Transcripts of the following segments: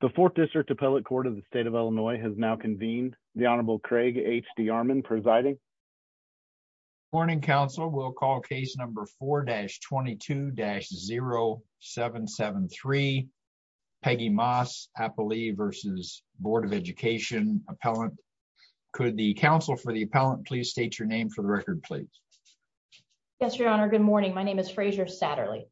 The Fourth District Appellate Court of the State of Illinois has now convened. The Honorable Craig H. D. Armon presiding. Morning, counsel. We'll call case number 4-22-0773. Peggy Maas, appellee v. Board of Education appellant. Could the counsel for the appellant please state your name for the record, please? Yes, your honor. Good morning. My name is Melinda Manline.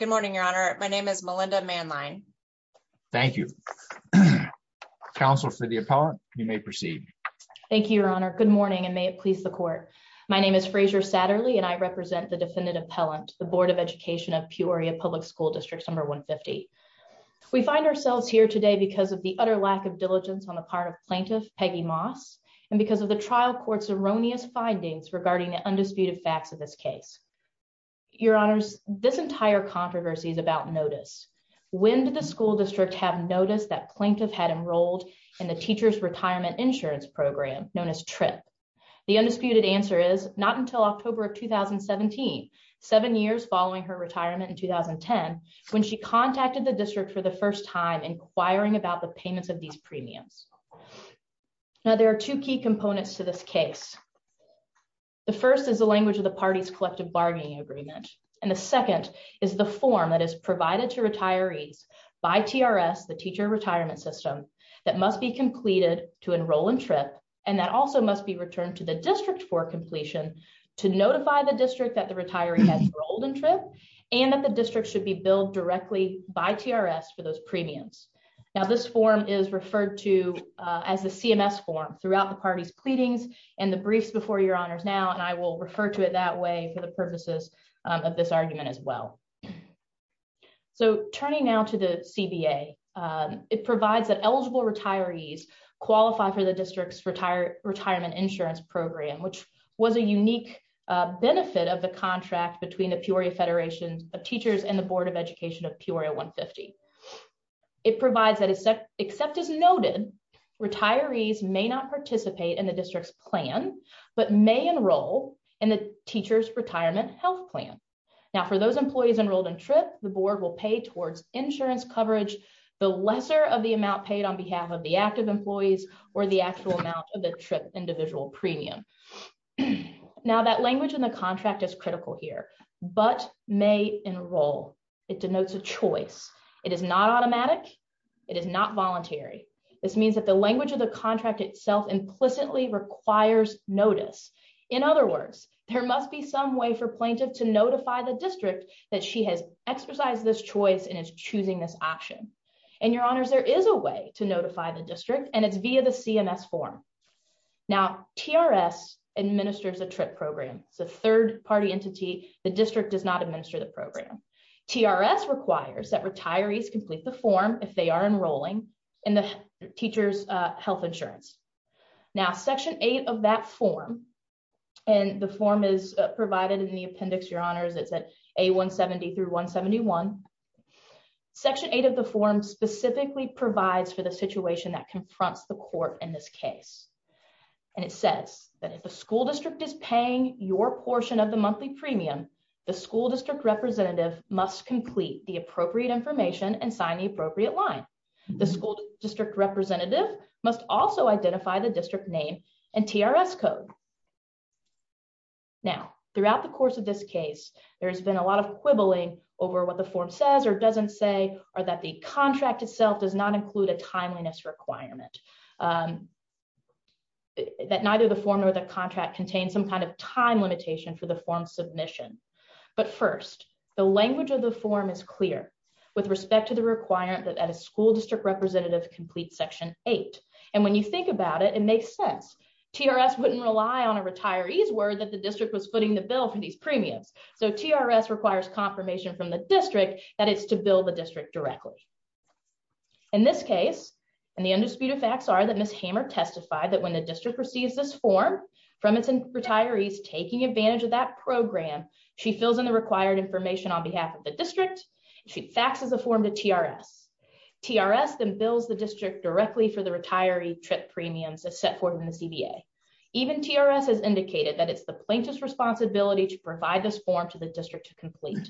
Good morning, your honor. My name is Melinda Manline. Thank you. Counsel for the appellant, you may proceed. Thank you, your honor. Good morning and may it please the court. My name is Frasier Satterly and I represent the defendant appellant, the Board of Education of Peoria Public School District Number 150. We find ourselves here today because of the utter lack of diligence on the part of plaintiff Peggy Maas and because of the trial court's erroneous findings regarding the undisputed facts of this case. Your honors, this entire controversy is about notice. When did the school district have notice that plaintiff had enrolled in the teacher's retirement insurance program known as TRIP? The undisputed answer is not until October of 2017, seven years following her retirement in 2010, when she contacted the district for the first time inquiring about the payments of premiums. Now, there are two key components to this case. The first is the language of the party's collective bargaining agreement and the second is the form that is provided to retirees by TRS, the teacher retirement system, that must be completed to enroll in TRIP and that also must be returned to the district for completion to notify the district that the retiree has enrolled in TRIP and that the district should be billed directly by TRS for those premiums. Now, this form is referred to as the CMS form throughout the party's pleadings and the briefs before your honors now and I will refer to it that way for the purposes of this argument as well. So, turning now to the CBA, it provides that eligible retirees qualify for the district's retirement insurance program, which was a unique benefit of the contract between the Peoria Federation of Teachers and the Board of Education of Peoria 150. It provides that except as noted, retirees may not participate in the district's plan but may enroll in the teacher's retirement health plan. Now, for those employees enrolled in TRIP, the board will pay towards insurance coverage the lesser of the amount paid on behalf of the active employees or the actual amount of the TRIP individual premium. Now, that language in the is not automatic. It is not voluntary. This means that the language of the contract itself implicitly requires notice. In other words, there must be some way for plaintiff to notify the district that she has exercised this choice and is choosing this option. And your honors, there is a way to notify the district and it's via the CMS form. Now, TRS administers a TRIP program. It's a third-party entity. The district does not administer the program. TRS requires that retirees complete the form if they are enrolling in the teacher's health insurance. Now, section eight of that form, and the form is provided in the appendix, your honors, it's at A170 through 171. Section eight of the form specifically provides for the situation that confronts the court in this case. And it says that if the school district is paying your portion of monthly premium, the school district representative must complete the appropriate information and sign the appropriate line. The school district representative must also identify the district name and TRS code. Now, throughout the course of this case, there has been a lot of quibbling over what the form says or doesn't say, or that the contract itself does not include a timeliness requirement. That neither the form nor the contract contains some kind of time limitation for the form submission. But first, the language of the form is clear with respect to the requirement that a school district representative complete section eight. And when you think about it, it makes sense. TRS wouldn't rely on a retiree's word that the district was footing the bill for these premiums. So TRS requires confirmation from the district that it's to bill the district directly. In this case, and the undisputed facts are that Hamer testified that when the district receives this form from its retirees taking advantage of that program, she fills in the required information on behalf of the district. She faxes a form to TRS. TRS then bills the district directly for the retiree trip premiums as set forth in the CBA. Even TRS has indicated that it's the plaintiff's responsibility to provide this form to the district to complete.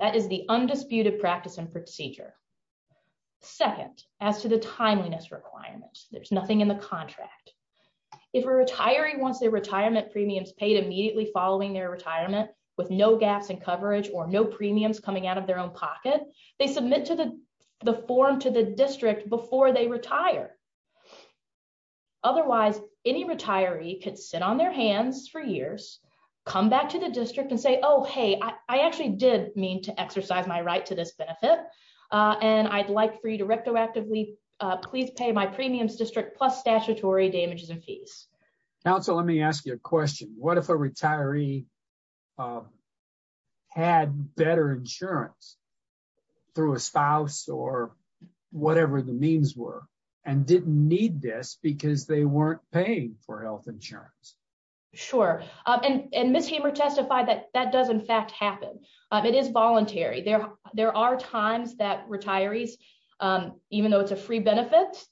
That is the undisputed practice and procedure. Second, as to the contract, if a retiree wants their retirement premiums paid immediately following their retirement with no gaps in coverage or no premiums coming out of their own pocket, they submit to the form to the district before they retire. Otherwise, any retiree could sit on their hands for years, come back to the district and say, oh, hey, I actually did mean to exercise my right to this benefit. And I'd like for you to rectoactively please pay my premiums plus statutory damages and fees. Council, let me ask you a question. What if a retiree had better insurance through a spouse or whatever the means were and didn't need this because they weren't paying for health insurance? Sure. And Ms. Hamer testified that that does in fact happen. It is voluntary. There are times that retirees, even though it's a free benefit,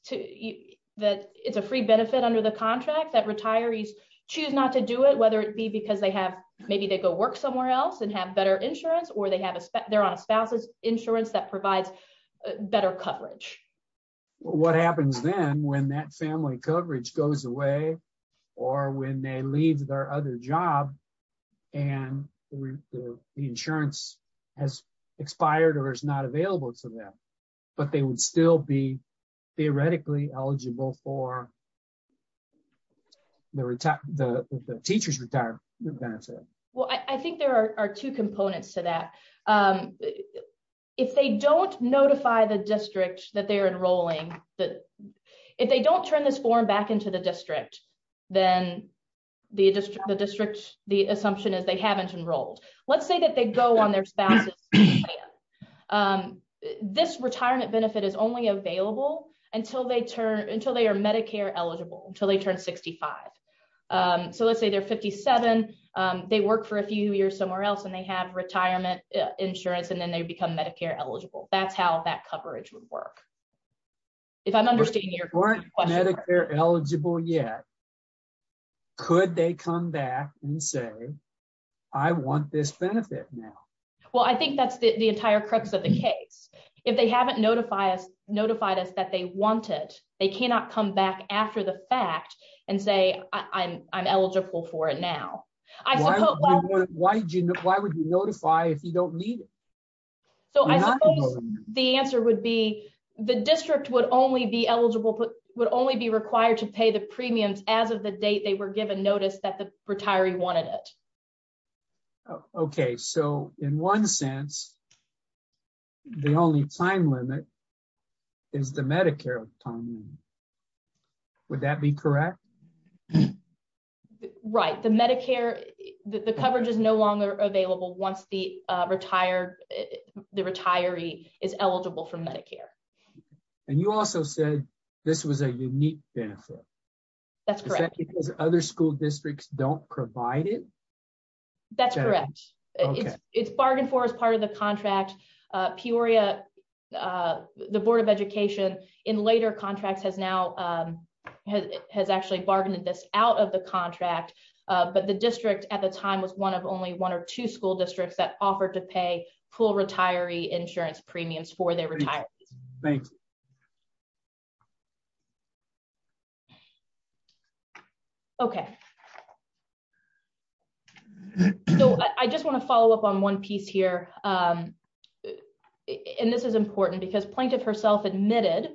that it's a free benefit under the contract that retirees choose not to do it, whether it be because they have maybe they go work somewhere else and have better insurance or they're on a spouse's insurance that provides better coverage. What happens then when that family coverage goes away or when they leave their other job and the insurance has expired or is not eligible for the teacher's retirement benefit? Well, I think there are two components to that. If they don't notify the district that they're enrolling, if they don't turn this form back into the district, then the district, the assumption is they haven't enrolled. Let's say that they go on to their spouse's plan. This retirement benefit is only available until they are Medicare eligible, until they turn 65. So let's say they're 57. They work for a few years somewhere else and they have retirement insurance and then they become Medicare eligible. That's how that coverage would work. If I'm understanding your question. If they weren't Medicare eligible yet, could they come back and say I want this benefit now? Well, I think that's the entire crux of the case. If they haven't notified us that they want it, they cannot come back after the fact and say I'm eligible for it now. Why would you notify if you don't need it? So I suppose the answer would be the district would only be eligible, would only be required to pay the premiums as of the date they were given notice that the retiree wanted it. Okay, so in one sense, the only time limit is the Medicare time limit. Would that be correct? Right. The Medicare, the coverage is no longer available once the retired, the retiree is eligible. Is that because other school districts don't provide it? That's correct. It's bargained for as part of the contract. Peoria, the Board of Education in later contracts has now has actually bargained this out of the contract. But the district at the time was one of only one or two school districts that offered to pay full retiree insurance premiums for their retirees. Okay. So I just want to follow up on one piece here. And this is important because plaintiff herself admitted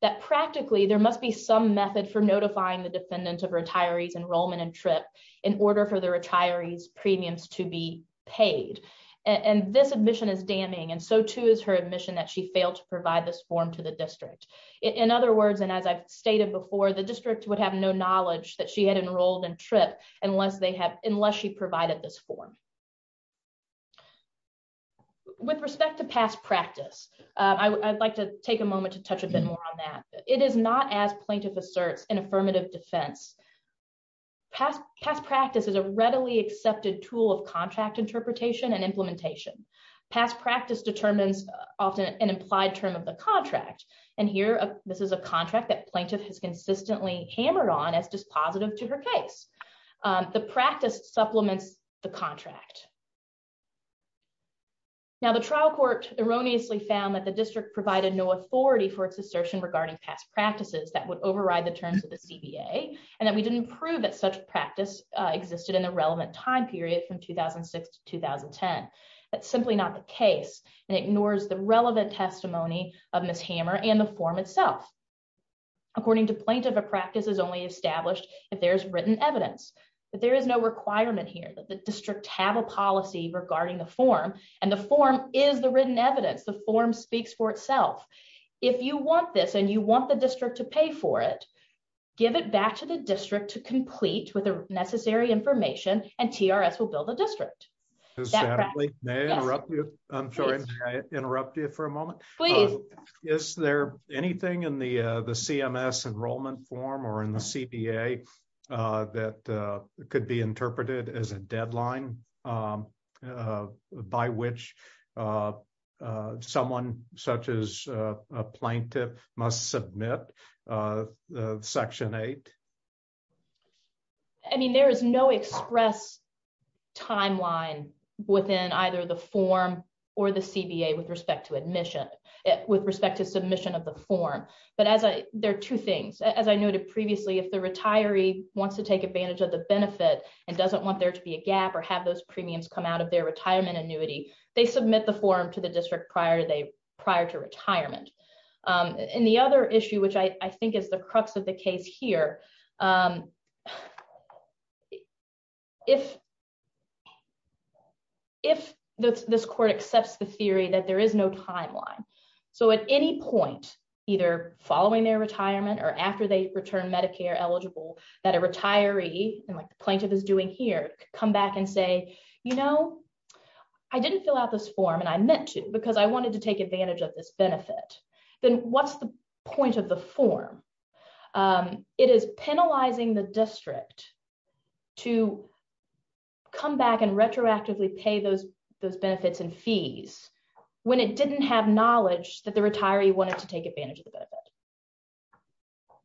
that practically there must be some method for notifying the defendant of retirees enrollment and trip in order for the retirees premiums to be paid. And this admission is and so too is her admission that she failed to provide this form to the district. In other words, and as I've stated before, the district would have no knowledge that she had enrolled and trip unless they have unless she provided this form. With respect to past practice, I'd like to take a moment to touch a bit more on that. It is not as plaintiff asserts in affirmative defense. Past practice is a readily accepted tool of contract interpretation and implementation. Past practice determines often an implied term of the contract. And here, this is a contract that plaintiff has consistently hammered on as dispositive to her case. The practice supplements the contract. Now, the trial court erroneously found that the district provided no authority for its assertion regarding past practices that would override the terms of the CBA, and that we didn't prove that such practice existed in a relevant time period from 2006 to 2010. That's simply not the case and ignores the relevant testimony of Ms. Hammer and the form itself. According to plaintiff, a practice is only established if there's written evidence, but there is no requirement here that the district have a policy regarding the form, and the form is the written evidence. The form speaks for itself. If you want this, and you want the district to pay for it, give it back to the district to complete with the necessary information, and TRS will build a district. I'm sorry, may I interrupt you for a moment? Please. Is there anything in the CMS enrollment form or in the CBA that could be interpreted as a deadline by which someone such as a plaintiff must submit Section 8? I mean, there is no express timeline within either the form or the CBA with respect to admission, with respect to submission of the form, but there are two things. As I noted previously, if the retiree wants to take advantage of the benefit and doesn't want there to be a gap or have those premiums come out of their retirement annuity, they submit the form to the district prior to retirement. The other issue, which I think is the crux of the case here, is if this court accepts the theory that there is no timeline, so at any point, either following their retirement or after they return Medicare eligible, that a retiree, and like the plaintiff is doing here, come back and say, you know, I didn't fill out this form, and I meant to because I wanted to take advantage of this benefit. Then what's the point of the district to come back and retroactively pay those benefits and fees when it didn't have knowledge that the retiree wanted to take advantage of the benefit?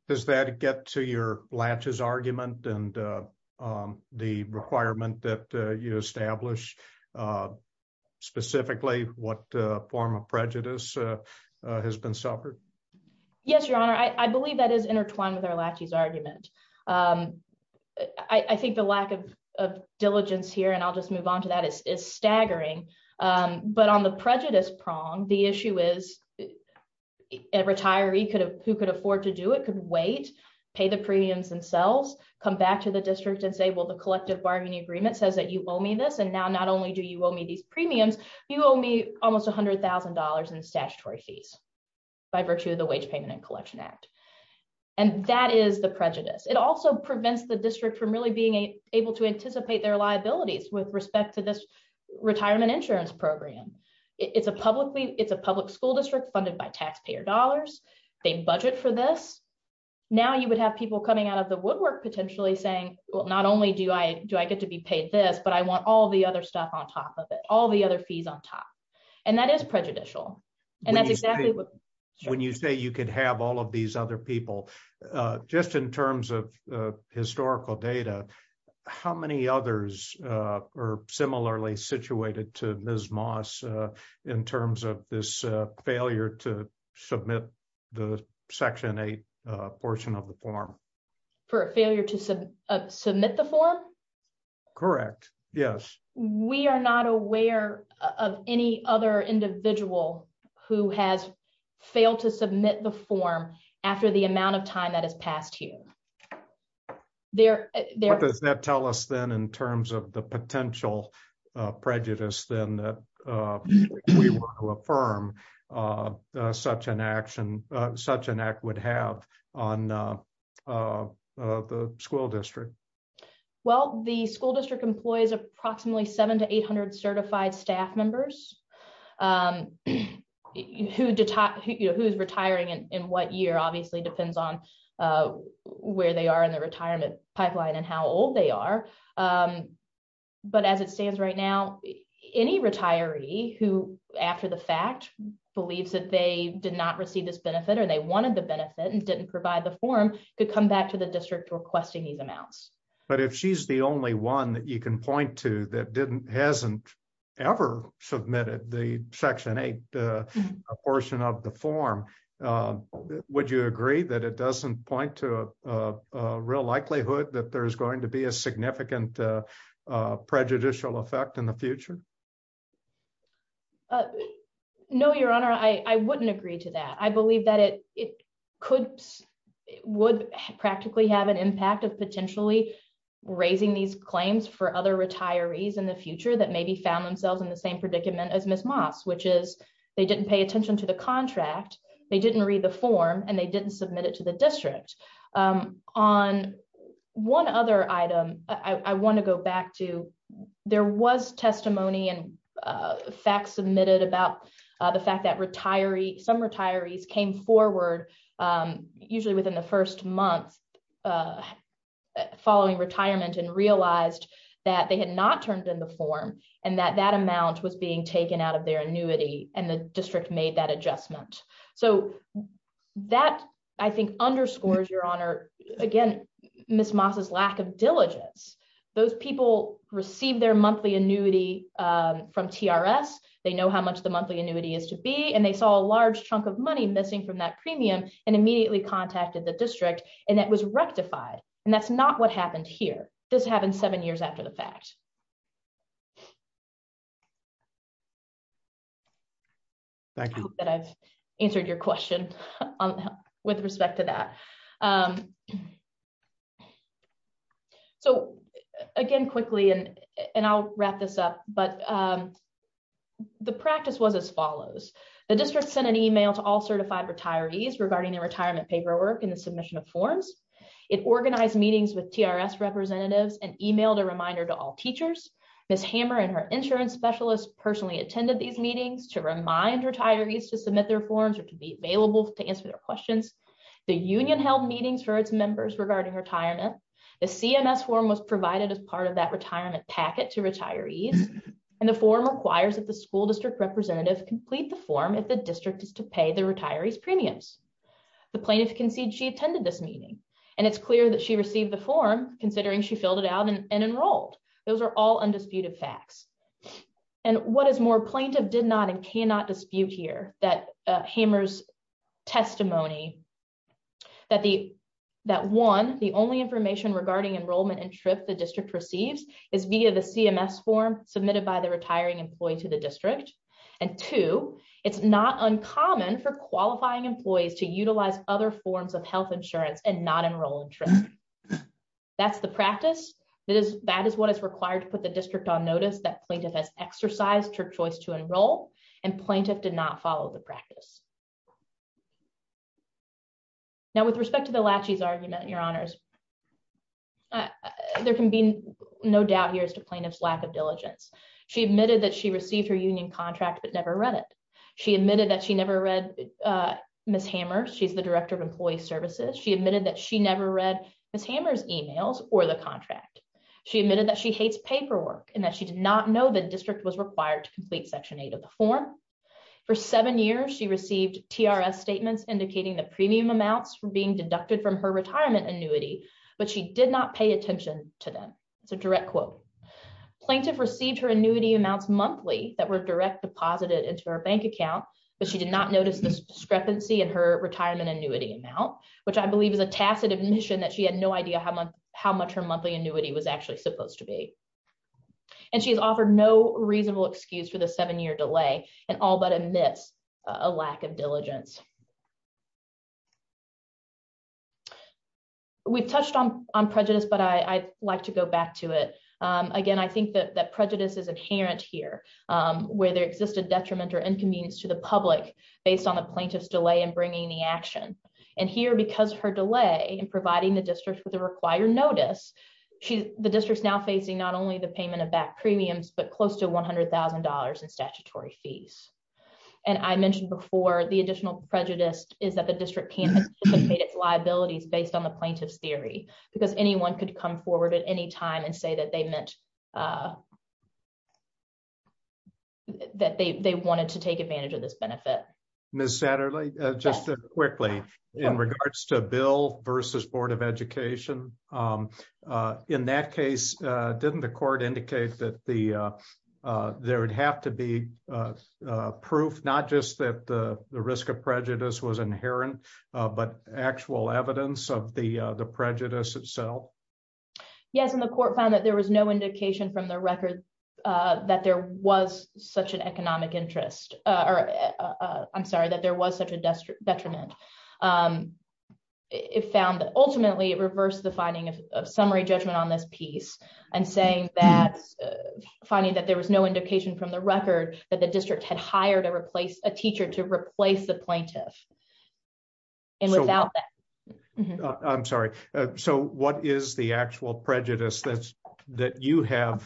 Does that get to your latches argument and the requirement that you establish, specifically what form of prejudice has been suffered? Yes, Your Honor, I believe that is intertwined with our latches argument. I think the lack of diligence here, and I'll just move on to that, is staggering, but on the prejudice prong, the issue is a retiree who could afford to do it could wait, pay the premiums themselves, come back to the district and say, well, the collective bargaining agreement says that you owe me this, and now not only do you owe me these premiums, you owe me almost $100,000 in statutory fees by virtue of the Wage Payment and Collection Act, and that is the prejudice. It also prevents the district from really being able to anticipate their liabilities with respect to this retirement insurance program. It's a public school district funded by taxpayer dollars. They budget for this. Now you would have people coming out of the woodwork potentially saying, well, not only do I get to be paid this, but I want all the other stuff on top of it, all the other fees on top, and that is prejudicial, and that's exactly what... When you say you could have all of these other people, just in terms of historical data, how many others are similarly situated to Ms. Moss in terms of this failure to submit the Section 8 portion of the form? For a failure to submit the form? Correct, yes. We are not aware of any other individual who has failed to submit the form after the amount of time that has passed here. What does that tell us then in terms of the potential prejudice then that we want to affirm such an act would have on the school district? Well, the school district employs approximately 700 to 800 certified staff members who's retiring in what year obviously depends on where they are in the retirement pipeline and how old they are, but as it stands right now, any retiree who after the fact believes that they did not receive this benefit or they wanted the benefit and didn't provide the form could come back to the district requesting these amounts. But if she's the only one that you can point to that hasn't ever submitted the Section 8 portion of the form, would you agree that it doesn't point to a real likelihood that there's going to be a significant prejudicial effect in the future? No, Your Honor, I wouldn't agree to that. I believe that it would practically have an impact of potentially raising these claims for other retirees in the future that maybe found themselves in the same predicament as Ms. Moss, which is they didn't pay attention to the contract, they didn't read the form, and they didn't submit it to the district. On one other item I want to go and facts submitted about the fact that some retirees came forward usually within the first month following retirement and realized that they had not turned in the form and that that amount was being taken out of their annuity and the district made that adjustment. So that I think underscores, Your Honor, again, Ms. Moss's lack of diligence. Those people received their monthly annuity from TRS, they know how much the monthly annuity is to be, and they saw a large chunk of money missing from that premium and immediately contacted the district and that was rectified, and that's not what happened here. This happened seven years after the fact. Thank you. I hope that I've answered your question with respect to that. So, again, quickly, and I'll wrap this up, but the practice was as follows. The district sent an email to all certified retirees regarding their retirement paperwork and the submission of forms. It organized meetings with TRS representatives and emailed a reminder to all teachers. Ms. Hammer and her insurance specialist personally attended these meetings to remind retirees to for its members regarding retirement. The CMS form was provided as part of that retirement packet to retirees and the form requires that the school district representative complete the form if the district is to pay the retirees premiums. The plaintiff conceded she attended this meeting and it's clear that she received the form considering she filled it out and enrolled. Those are all undisputed facts. And what is more, plaintiff did not and cannot dispute here Hammer's testimony that one, the only information regarding enrollment and TRIP the district receives is via the CMS form submitted by the retiring employee to the district and two, it's not uncommon for qualifying employees to utilize other forms of health insurance and not enroll in TRIP. That's the practice. That is what is required to put the district on notice that plaintiff has exercised her choice to enroll and plaintiff did not follow the practice. Now, with respect to the Lachey's argument, your honors, there can be no doubt here as to plaintiff's lack of diligence. She admitted that she received her union contract but never read it. She admitted that she never read Ms. Hammer. She's the director of employee services. She admitted that she never read Ms. Hammer's emails or the contract. She admitted that she hates paperwork and that she did not know the district was required to complete section eight of the form. For seven years, she received TRS statements indicating that premium amounts were being deducted from her retirement annuity but she did not pay attention to them. It's a direct quote. Plaintiff received her annuity amounts monthly that were direct deposited into her bank account but she did not notice this discrepancy in her retirement annuity amount, which I believe is a tacit admission that she had no idea how much her monthly annuity was actually supposed to be. And she's offered no reasonable excuse for the seven-year delay and all but admits a lack of diligence. We've touched on prejudice but I'd like to go back to it. Again, I think that prejudice is inherent here where there exists a detriment or inconvenience to the public based on the plaintiff's delay in bringing the action. And here, because her delay in providing the district with the payment of back premiums but close to $100,000 in statutory fees. And I mentioned before, the additional prejudice is that the district can't anticipate its liabilities based on the plaintiff's theory because anyone could come forward at any time and say that they wanted to take advantage of this benefit. Ms. Satterley, just quickly in regards to versus Board of Education, in that case, didn't the court indicate that there would have to be proof not just that the risk of prejudice was inherent but actual evidence of the prejudice itself? Yes, and the court found that there was no indication from the record that there was such an economic interest. I'm sorry, that there was such a detriment. It found that ultimately, it reversed the finding of summary judgment on this piece and saying that finding that there was no indication from the record that the district had hired a teacher to replace the plaintiff. And without that... I'm sorry, so what is the appeal? The prejudice is penalizing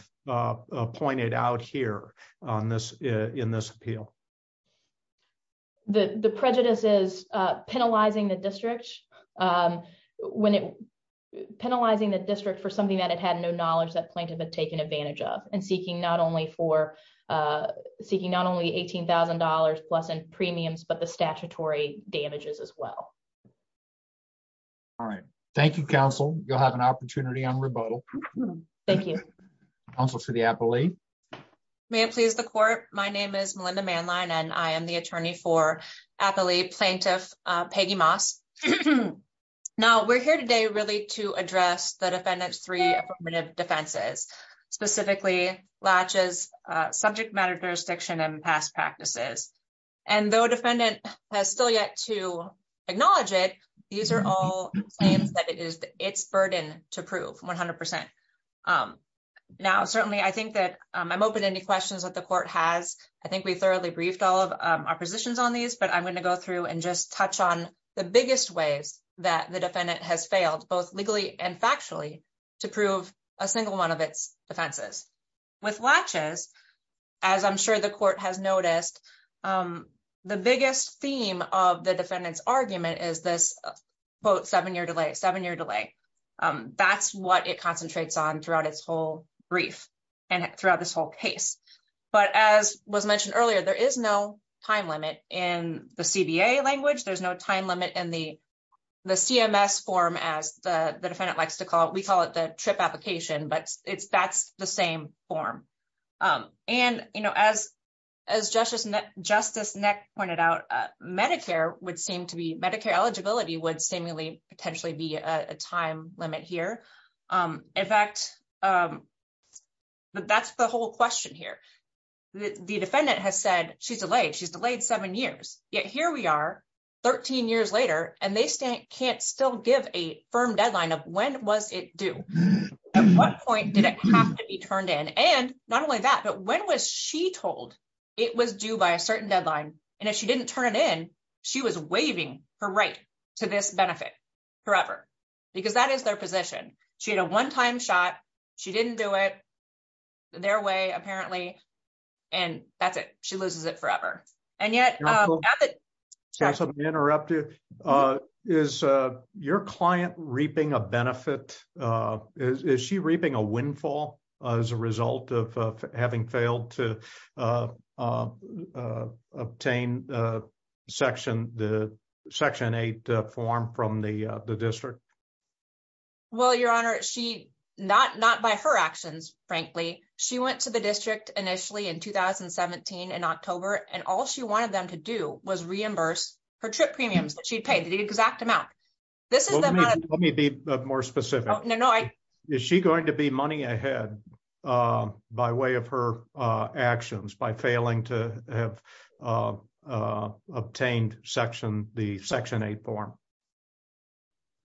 the district for something that it had no knowledge that plaintiff had taken advantage of and seeking not only $18,000 plus in premiums but the statutory damages as well. All right. Thank you, counsel. You'll have an opportunity on rebuttal. Thank you. Counsel for the appellee. May it please the court, my name is Melinda Manline and I am the attorney for appellee plaintiff Peggy Moss. Now, we're here today really to address the defendant's three affirmative defenses, specifically Latch's subject matter jurisdiction and past practices. And though defendant has still yet to acknowledge it, these are all claims that it is its burden to prove 100%. Now, certainly, I think that I'm open to any questions that the court has. I think we thoroughly briefed all of our positions on these, but I'm going to go through and just touch on the biggest ways that the defendant has failed both legally and factually to prove a single one of its defenses. With Latch's, as I'm sure the court has noticed, the biggest theme of the defendant's argument is this seven-year delay. That's what it concentrates on throughout its whole brief and throughout this whole case. But as was mentioned earlier, there is no time limit in the CBA language. There's no time limit in the CMS form as the defendant likes to call it. We call it the trip application, but that's the same form. And as Justice Neck pointed out, Medicare eligibility would seemingly potentially be a time limit here. In fact, that's the whole question here. The defendant has said she's delayed. She's delayed seven years. Yet here we are 13 years later, and they can't still give a firm deadline of when was it due? At what point did it have to be turned in? And not only that, but when was she told it was due by a certain deadline? And if she didn't turn it in, she was waiving her right to this benefit forever because that is their position. She had a one-time shot. She didn't do it their way apparently, and that's it. She loses it forever. And yet- I'm sorry to interrupt you. Is your client reaping a benefit? Is she reaping a windfall as a result of having failed to obtain Section 8 form from the district? Well, Your Honor, not by her actions, frankly. She went to the district initially in 2017 in her trip premiums that she'd paid, the exact amount. This is the amount- Let me be more specific. Is she going to be money ahead by way of her actions, by failing to have obtained the Section 8 form?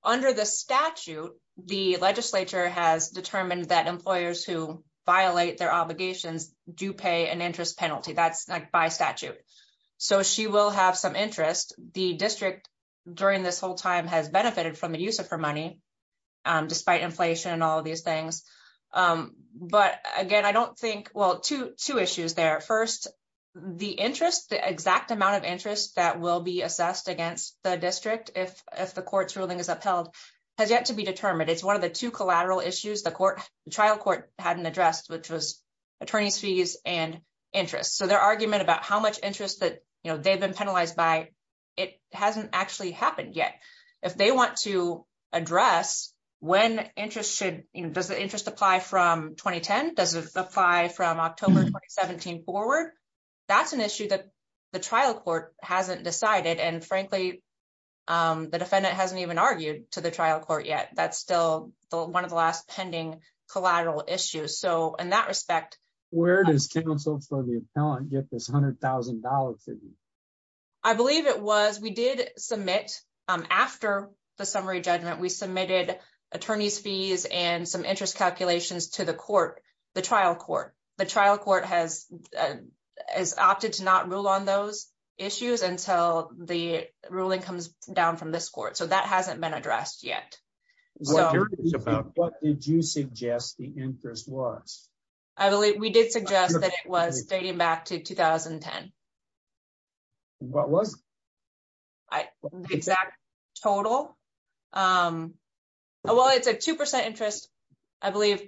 Under the statute, the legislature has determined that employers who violate their obligations do pay an interest penalty. That's by statute. So she will have some interest. The district during this whole time has benefited from the use of her money despite inflation and all of these things. But again, I don't think- Well, two issues there. First, the interest, the exact amount of interest that will be assessed against the district if the court's ruling is upheld has yet to be determined. It's one of the two collateral issues the trial court hadn't addressed, which was attorney's fees and interest. So their argument about how much interest that they've been penalized by, it hasn't actually happened yet. If they want to address when interest should, does the interest apply from 2010? Does it apply from October 2017 forward? That's an issue that the trial court hasn't decided. And frankly, the defendant hasn't even argued to the trial court yet. That's still one of the last pending collateral issues. So in that respect- Get this $100,000 figure. I believe it was, we did submit after the summary judgment, we submitted attorney's fees and some interest calculations to the court, the trial court. The trial court has opted to not rule on those issues until the ruling comes down from this court. So that hasn't been addressed yet. What did you suggest the interest was? We did suggest that it was dating back to 2010. What was? Exact total. Well, it's a 2% interest, I believe,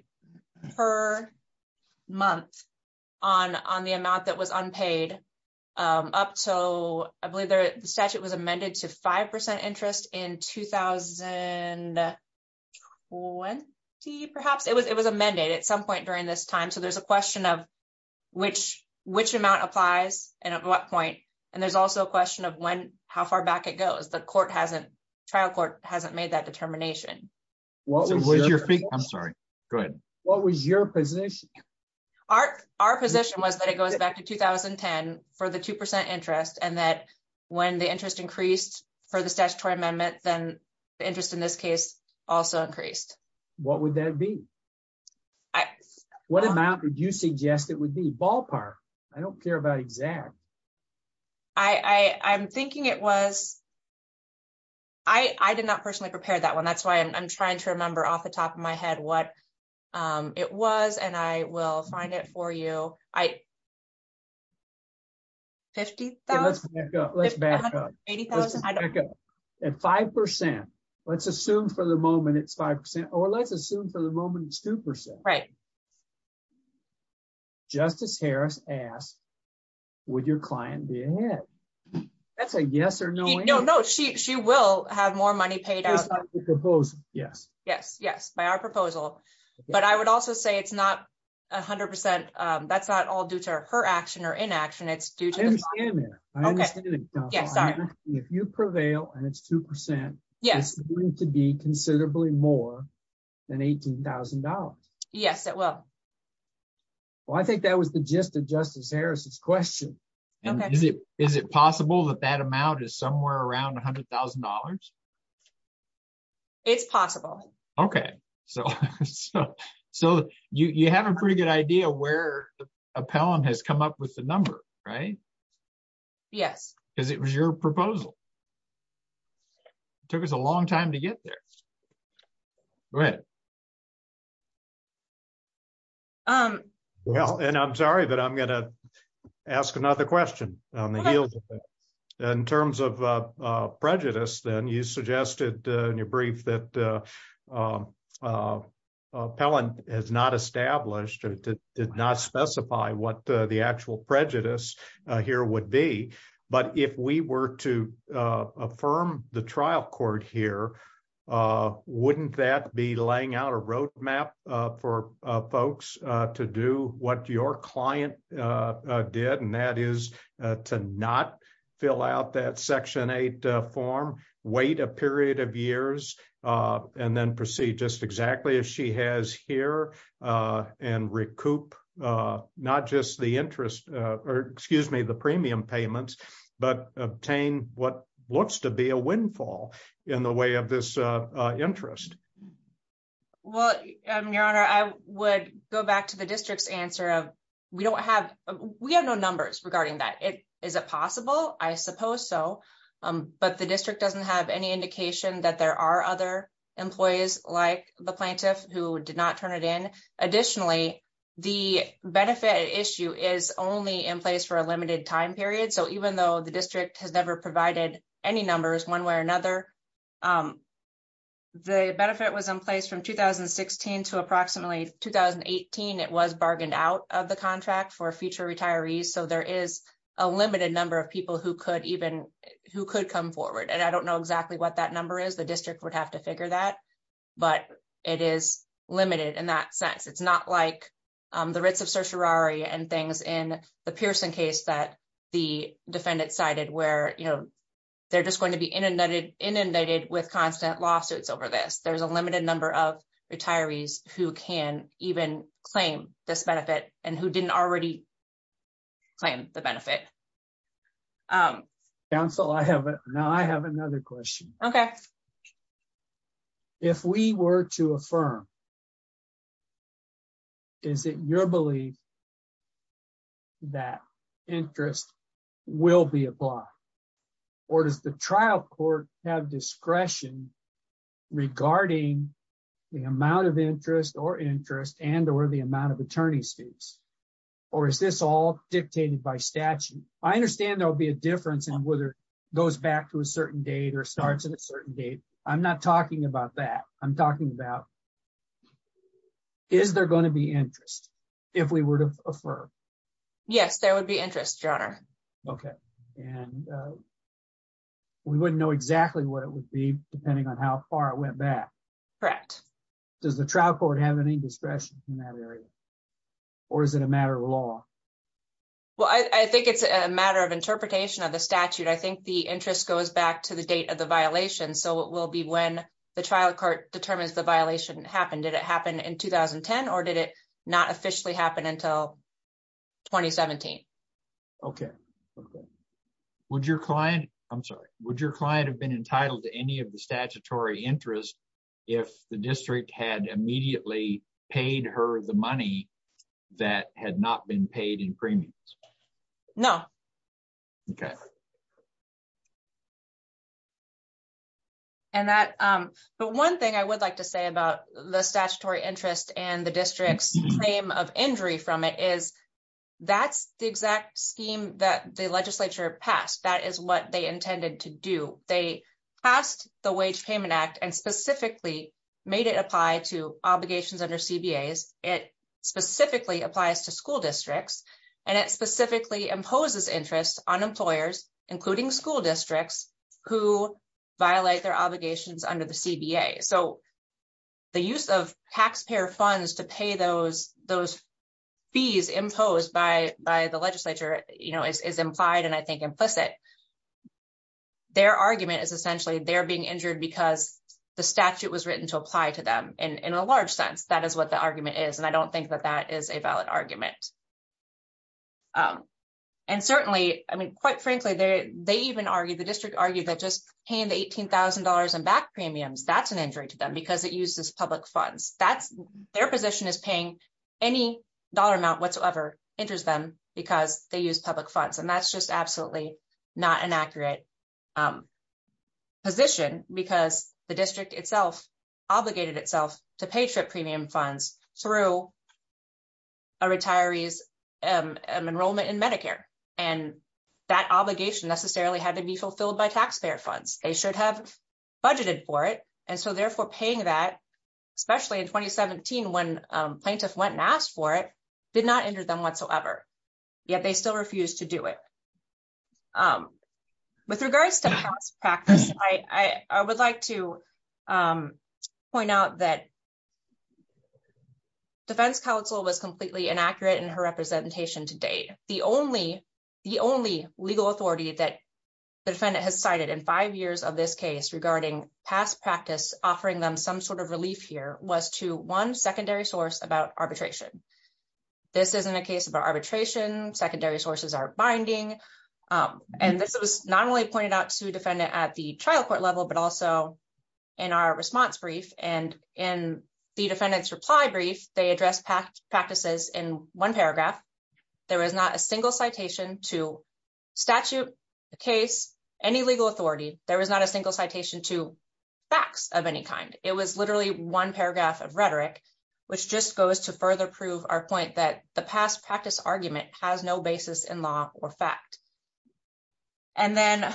per month on the amount that was unpaid up to, I believe the statute was amended to 5% interest in 2020 perhaps. It was amended at some question of which amount applies and at what point. And there's also a question of when, how far back it goes. The court hasn't, trial court hasn't made that determination. I'm sorry, go ahead. What was your position? Our position was that it goes back to 2010 for the 2% interest and that when the interest increased for the statutory amendment, then the interest in this case also increased. What would that be? I... What amount did you suggest it would be? Ballpark. I don't care about exact. I'm thinking it was... I did not personally prepare that one. That's why I'm trying to remember off the top of my head what it was and I will find it for you. I... 50,000? Let's back up. 180,000? Let's back up. 5%. Let's assume for the moment it's 5% or let's assume for the moment it's 2%. Justice Harris asked, would your client be ahead? That's a yes or no answer. No, no. She will have more money paid out. Just by the proposal. Yes. Yes. Yes. By our proposal. But I would also say it's not 100%. That's not all due to her action or inaction. It's due to the... I understand that. I understand it. If you prevail and it's 2%, it's going to be considerably more than $18,000. Yes, it will. Well, I think that was the gist of Justice Harris's question. Okay. Is it possible that that amount is somewhere around $100,000? It's possible. Okay. So you have a pretty good idea where the appellant has come up with the number, right? Yes. Because it was your proposal. It took us a long time to get there. Right. Well, and I'm sorry, but I'm going to ask another question on the heels of that. In terms of prejudice, then, you suggested in your brief that appellant has not established or did not specify what the actual prejudice here would be. But if we were to affirm the trial court here, wouldn't that be laying out a roadmap for folks to do what your client did, and that is to not fill out that Section 8 form, wait a period of years, and then proceed just exactly as she has here, and recoup not just the interest, or excuse me, the premium payments, but obtain what looks to be a windfall in the way of this interest? Well, Your Honor, I would go back to the district's answer of, we don't have, we have no numbers regarding that. Is it possible? I suppose so. But the district doesn't have any indication that there are other employees like the plaintiff who did not turn it in. Additionally, the benefit issue is only in place for a limited time period. So, even though the district has never provided any numbers one way or another, the benefit was in place from 2016 to approximately 2018. It was bargained out of the contract for future retirees. So, there is a limited number of people who could even come forward, and I don't know exactly what that number is. The district would have to figure that, but it is limited in that sense. It's not like the writs of certiorari and things in the Pearson case that the defendant cited where, you know, they're just going to be inundated with constant lawsuits over this. There's a limited number of retirees who can even claim this benefit and who didn't already claim the benefit. Counsel, I have another question. Okay. If we were to affirm, is it your belief that interest will be applied? Or does the trial court have discretion regarding the amount of interest or interest and or the amount of attorney's fees? Or is this all dictated by statute? I understand there'll be a difference in whether it goes back to a certain date or starts at a certain date. I'm not talking about that. I'm talking about, is there going to be interest if we were to affirm? Yes, there would be interest, your honor. Okay. And we wouldn't know exactly what it would be depending on how far it went back. Correct. Does the trial court have any discretion in that area? Or is it a matter of law? Well, I think it's a matter of interpretation of the statute. I think the interest goes back to the date of the violation. So it will be when the trial court determines the violation happened. Did it happen in 2010? Or did it not officially happen until 2017? Okay. Okay. Would your client, I'm sorry, would your client have been entitled to any of statutory interest if the district had immediately paid her the money that had not been paid in premiums? No. Okay. And that, but one thing I would like to say about the statutory interest and the district's claim of injury from it is that's the exact scheme that the legislature passed. That is what they intended to do. They passed the Wage Payment Act and specifically made it apply to obligations under CBAs. It specifically applies to school districts and it specifically imposes interest on employers, including school districts who violate their obligations under the CBA. So the use of taxpayer funds to pay those fees imposed by the legislature is implied and I think implicit. Their argument is essentially they're being injured because the statute was written to apply to them in a large sense. That is what the argument is and I don't think that that is a valid argument. And certainly, I mean, quite frankly, they even argued, the district argued that just paying the $18,000 in back premiums, that's an injury to them because it uses public funds. Their position is paying any dollar amount whatsoever injures them because they use public funds. And that's a very inaccurate position because the district itself obligated itself to pay trip premium funds through a retiree's enrollment in Medicare. And that obligation necessarily had to be fulfilled by taxpayer funds. They should have budgeted for it and so therefore paying that, especially in 2017 when plaintiffs went and asked for it, did not injure them With regards to past practice, I would like to point out that defense counsel was completely inaccurate in her representation to date. The only legal authority that the defendant has cited in five years of this case regarding past practice offering them some sort of relief here was to one secondary source about arbitration. This isn't a case of arbitration. Secondary sources are binding. And this was not only pointed out to defendant at the trial court level, but also in our response brief and in the defendant's reply brief, they addressed practices in one paragraph. There was not a single citation to statute, the case, any legal authority. There was not a single citation to facts of any kind. It was argument has no basis in law or fact. And then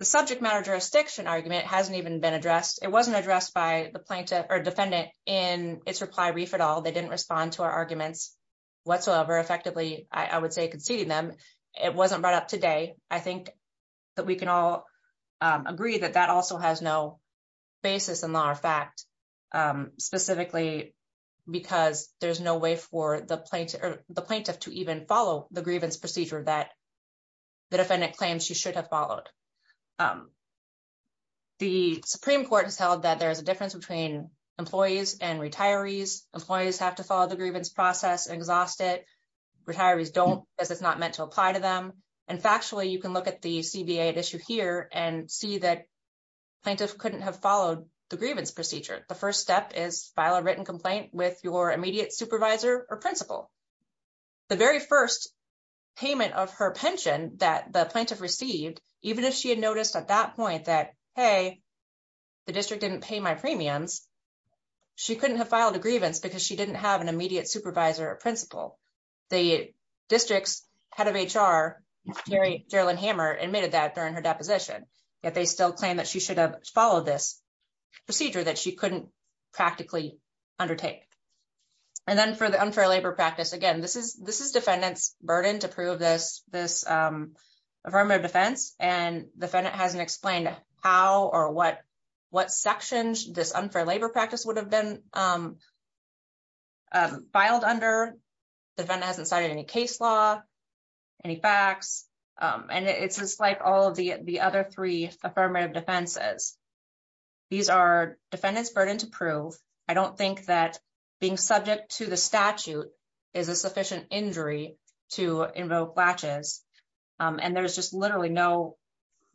the subject matter jurisdiction argument hasn't even been addressed. It wasn't addressed by the plaintiff or defendant in its reply brief at all. They didn't respond to our arguments whatsoever. Effectively, I would say conceding them, it wasn't brought up today. I think that we can all agree that that also has no specifically because there's no way for the plaintiff to even follow the grievance procedure that the defendant claims she should have followed. The Supreme Court has held that there is a difference between employees and retirees. Employees have to follow the grievance process and exhaust it. Retirees don't as it's not meant to apply to them. And factually, you can look at the CBA at issue here and see that plaintiff couldn't have followed the grievance procedure. The first step is file a written complaint with your immediate supervisor or principal. The very first payment of her pension that the plaintiff received, even if she had noticed at that point that, hey, the district didn't pay my premiums, she couldn't have filed a grievance because she didn't have an immediate supervisor or principal. The district's head of HR, Geraldine Hammer admitted that during her deposition. Yet they still claim that she should have followed this procedure that she couldn't practically undertake. And then for the unfair labor practice, again, this is this is defendants burden to prove this this affirmative defense. And the defendant hasn't explained how or what what sections this unfair labor practice would have been filed under. The defendant hasn't cited any case law, any facts. And it's just like all of the other three affirmative defenses. These are defendants burden to prove. I don't think that being subject to the statute is a sufficient injury to invoke latches. And there's just literally no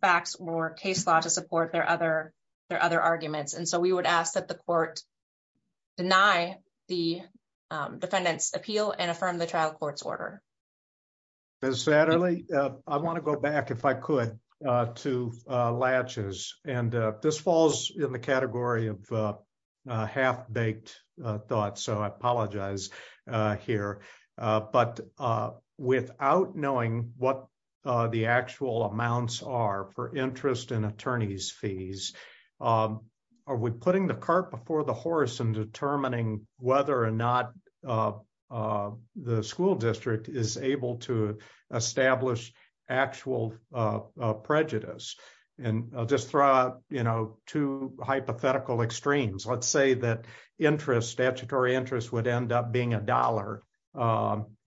facts or case law to support their other their other arguments. And so we would ask that the court deny the defendant's appeal and affirm the trial court's order. As sadly, I want to go back if I could, to latches. And this falls in the category of half baked thoughts. So I apologize here. But without knowing what the actual amounts are for interest and attorneys fees, are we putting the cart before the horse and determining whether or not the school district is able to establish actual prejudice? And I'll just throw out, you know, two hypothetical extremes. Let's say that interest statutory interest would end up being $1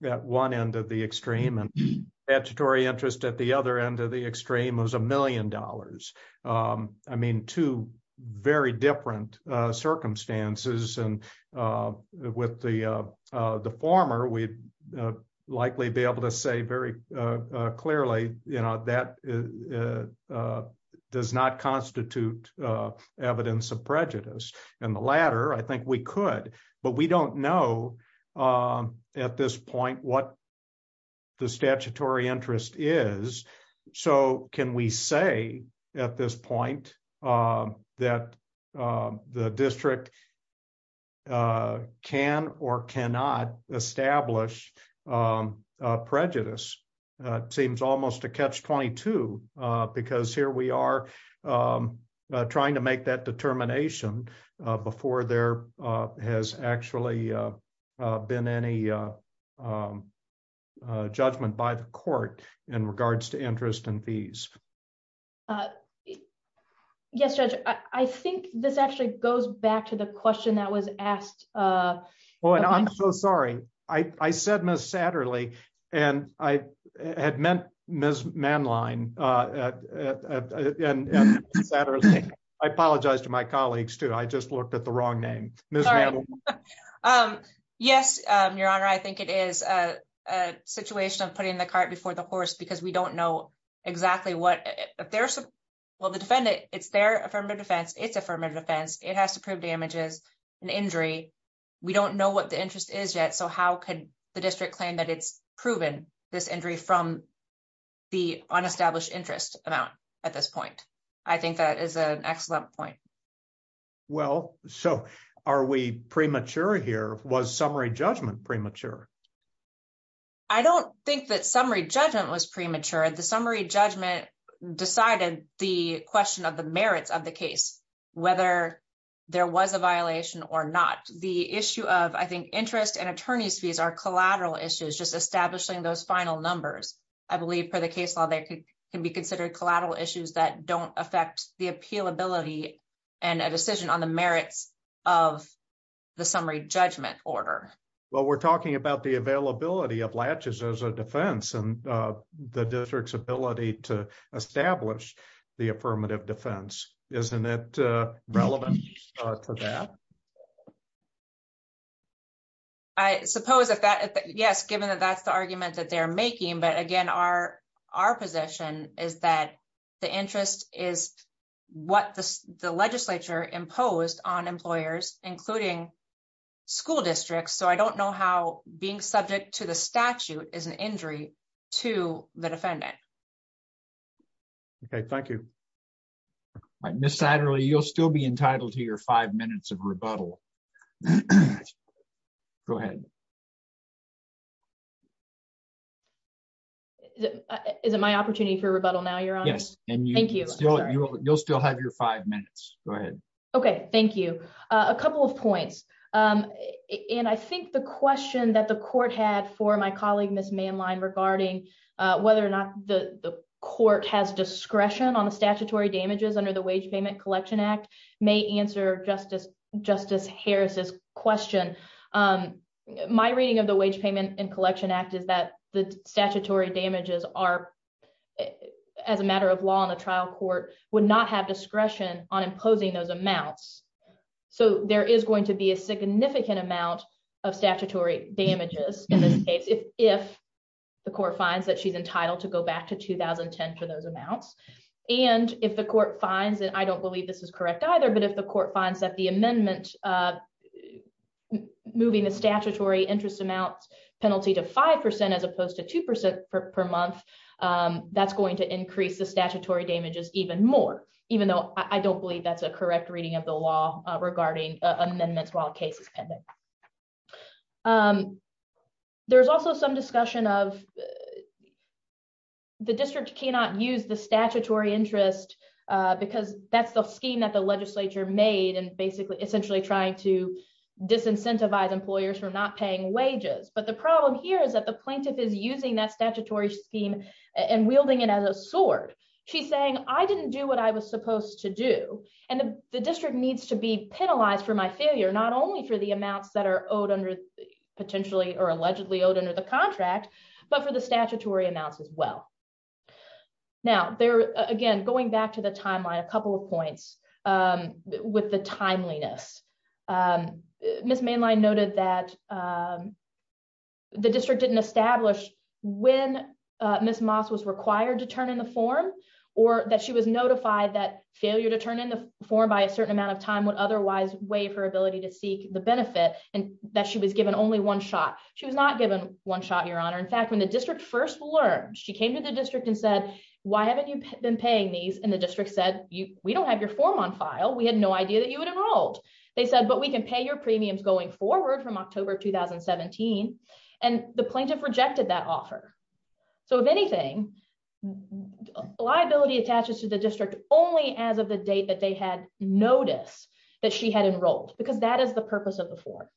at one end of the extreme and statutory interest at the other end of the extreme was $1 the former, we'd likely be able to say very clearly, you know, that does not constitute evidence of prejudice. And the latter, I think we could, but we don't know at this point what the statutory interest is. So can we say at this point, that the district a can or cannot establish prejudice seems almost a catch 22. Because here we are trying to make that determination before there has actually been any judgment by the court in regards to interest and fees. Uh, yes, Judge, I think this actually goes back to the question that was asked. Oh, and I'm so sorry. I said, Miss Satterley. And I had meant Miss Manline. I apologize to my colleagues, too. I just looked at the wrong name. Yes, Your Honor, I think it is a situation of putting the cart before the horse because we know exactly what the defendant, it's their affirmative defense, it's affirmative defense, it has to prove damages and injury. We don't know what the interest is yet. So how could the district claim that it's proven this injury from the unestablished interest amount at this point? I think that is an excellent point. Well, so are we premature here? Was summary judgment was premature. The summary judgment decided the question of the merits of the case, whether there was a violation or not. The issue of, I think, interest and attorney's fees are collateral issues, just establishing those final numbers. I believe, per the case law, they can be considered collateral issues that don't affect the appealability and a decision on the merits of the summary judgment order. Well, we're talking about the availability of the district's ability to establish the affirmative defense. Isn't it relevant for that? I suppose, yes, given that that's the argument that they're making. But again, our position is that the interest is what the legislature imposed on employers, including school districts. So I don't know how being subject to the statute is an injury to the defendant. OK, thank you. Miss Satterly, you'll still be entitled to your five minutes of rebuttal. Go ahead. Is it my opportunity for rebuttal now? Yes. Thank you. You'll still have your five minutes. OK, thank you. A couple of points. And I think the question that the court had for my colleague, Miss Manline, regarding whether or not the court has discretion on the statutory damages under the Wage Payment Collection Act may answer Justice Harris's question. My reading of the Wage Payment and Collection Act is that the statutory damages are, as a matter of law in the trial court, would not have discretion on imposing those amounts. So there is going to be a significant amount of statutory damages in this case if the court finds that she's entitled to go back to 2010 for those amounts. And if the court finds, and I don't believe this is correct either, but if the court finds that the amendment moving the statutory interest amount penalty to five percent as opposed to two percent per month, that's going to increase the statutory damages even more, even though I don't believe that's a correct reading of the law regarding amendments while a case is pending. There's also some discussion of the district cannot use the statutory interest because that's the scheme that the legislature made and essentially trying to disincentivize employers from not paying wages. But the problem here is that the plaintiff is using that statutory scheme and wielding it as a sword. She's saying, I didn't do what I was supposed to do, and the district needs to be penalized for my failure, not only for the amounts that are owed potentially or allegedly owed under the contract, but for the statutory amounts as well. Now, again, going back to the timeline, a couple of points with the timeliness. Ms. Mainline noted that the district didn't establish when Ms. Moss was required to turn in the form or that she was notified that failure to turn in the form by a certain amount of time would otherwise waive her ability to seek the benefit and that she was given only one shot. She was not given one shot, Your Honor. In fact, when the district first learned, she came to the district and said, why haven't you been paying these? And the district said, we don't have your form on file. We had no idea that you had enrolled. They said, but we can pay your premiums going forward from October 2017. And the plaintiff rejected that offer. So if anything, liability attaches to the district only as of the date that they had noticed that she had enrolled, because that is the purpose of the form.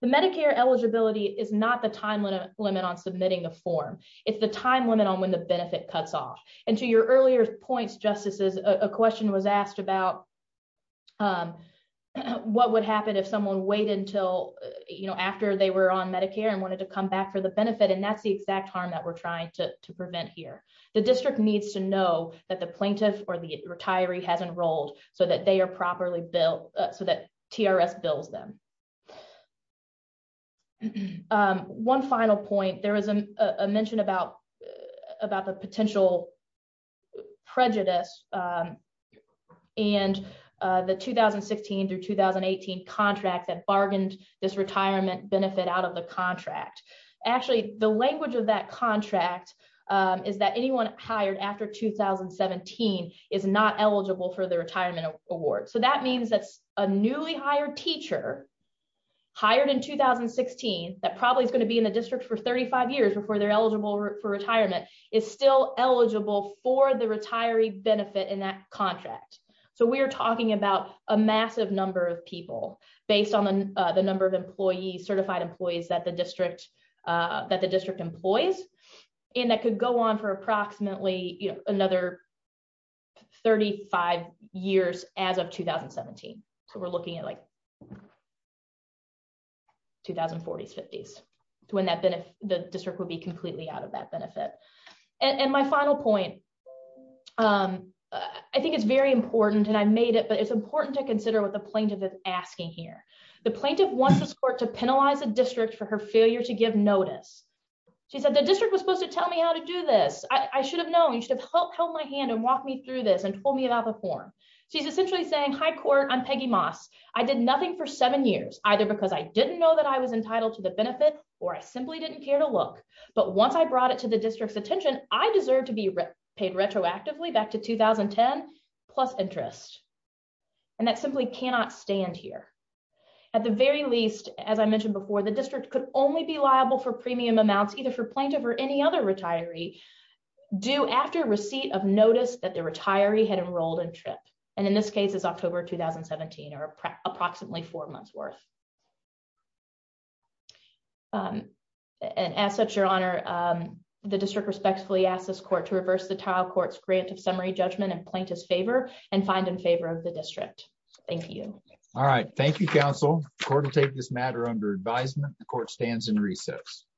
The Medicare eligibility is not the time limit on submitting the form. It's the time limit on when the benefit cuts off. And to your earlier points, Justices, a question was asked about what would happen if someone waited until after they were on Medicare and wanted to come back for the benefit. And that's the exact harm that we're trying to prevent here. The district needs to know that the plaintiff or the retiree has enrolled so that they are properly billed so that TRS bills them. And one final point, there was a mention about the potential prejudice and the 2016 through 2018 contract that bargained this retirement benefit out of the contract. Actually, the language of that contract is that anyone hired after 2017 is not eligible for the retirement award. So that means that a newly hired teacher hired in 2016, that probably is going to be in the district for 35 years before they're eligible for retirement, is still eligible for the retiree benefit in that contract. So we're talking about a massive number of people based on the number of employees, certified employees that the district employs, and that could go on for approximately another 35 years as of 2017. So we're looking at like 2040s, 50s, when the district would be completely out of that benefit. And my final point, I think it's very important, and I made it, but it's important to consider what the plaintiff is asking here. The plaintiff wants the court to penalize the district for her failure to give notice. She said the district was supposed to tell me how to do this. I should have known, should have held my hand and walked me through this and told me about the form. She's essentially saying, hi, court, I'm Peggy Moss. I did nothing for seven years, either because I didn't know that I was entitled to the benefit, or I simply didn't care to look. But once I brought it to the district's attention, I deserve to be paid retroactively back to 2010, plus interest. And that simply cannot stand here. At the very least, as I mentioned before, the district could only be liable for premium amounts either for plaintiff or any other retiree due after receipt of notice that the retiree had enrolled in TRIP. And in this case, it's October 2017, or approximately four months worth. And as such, Your Honor, the district respectfully asks this court to reverse the title court's grant of summary judgment and plaintiff's favor and find in favor of the district. Thank you. All right. Thank you, counsel. Court will take this matter under advisement. The court stands in recess.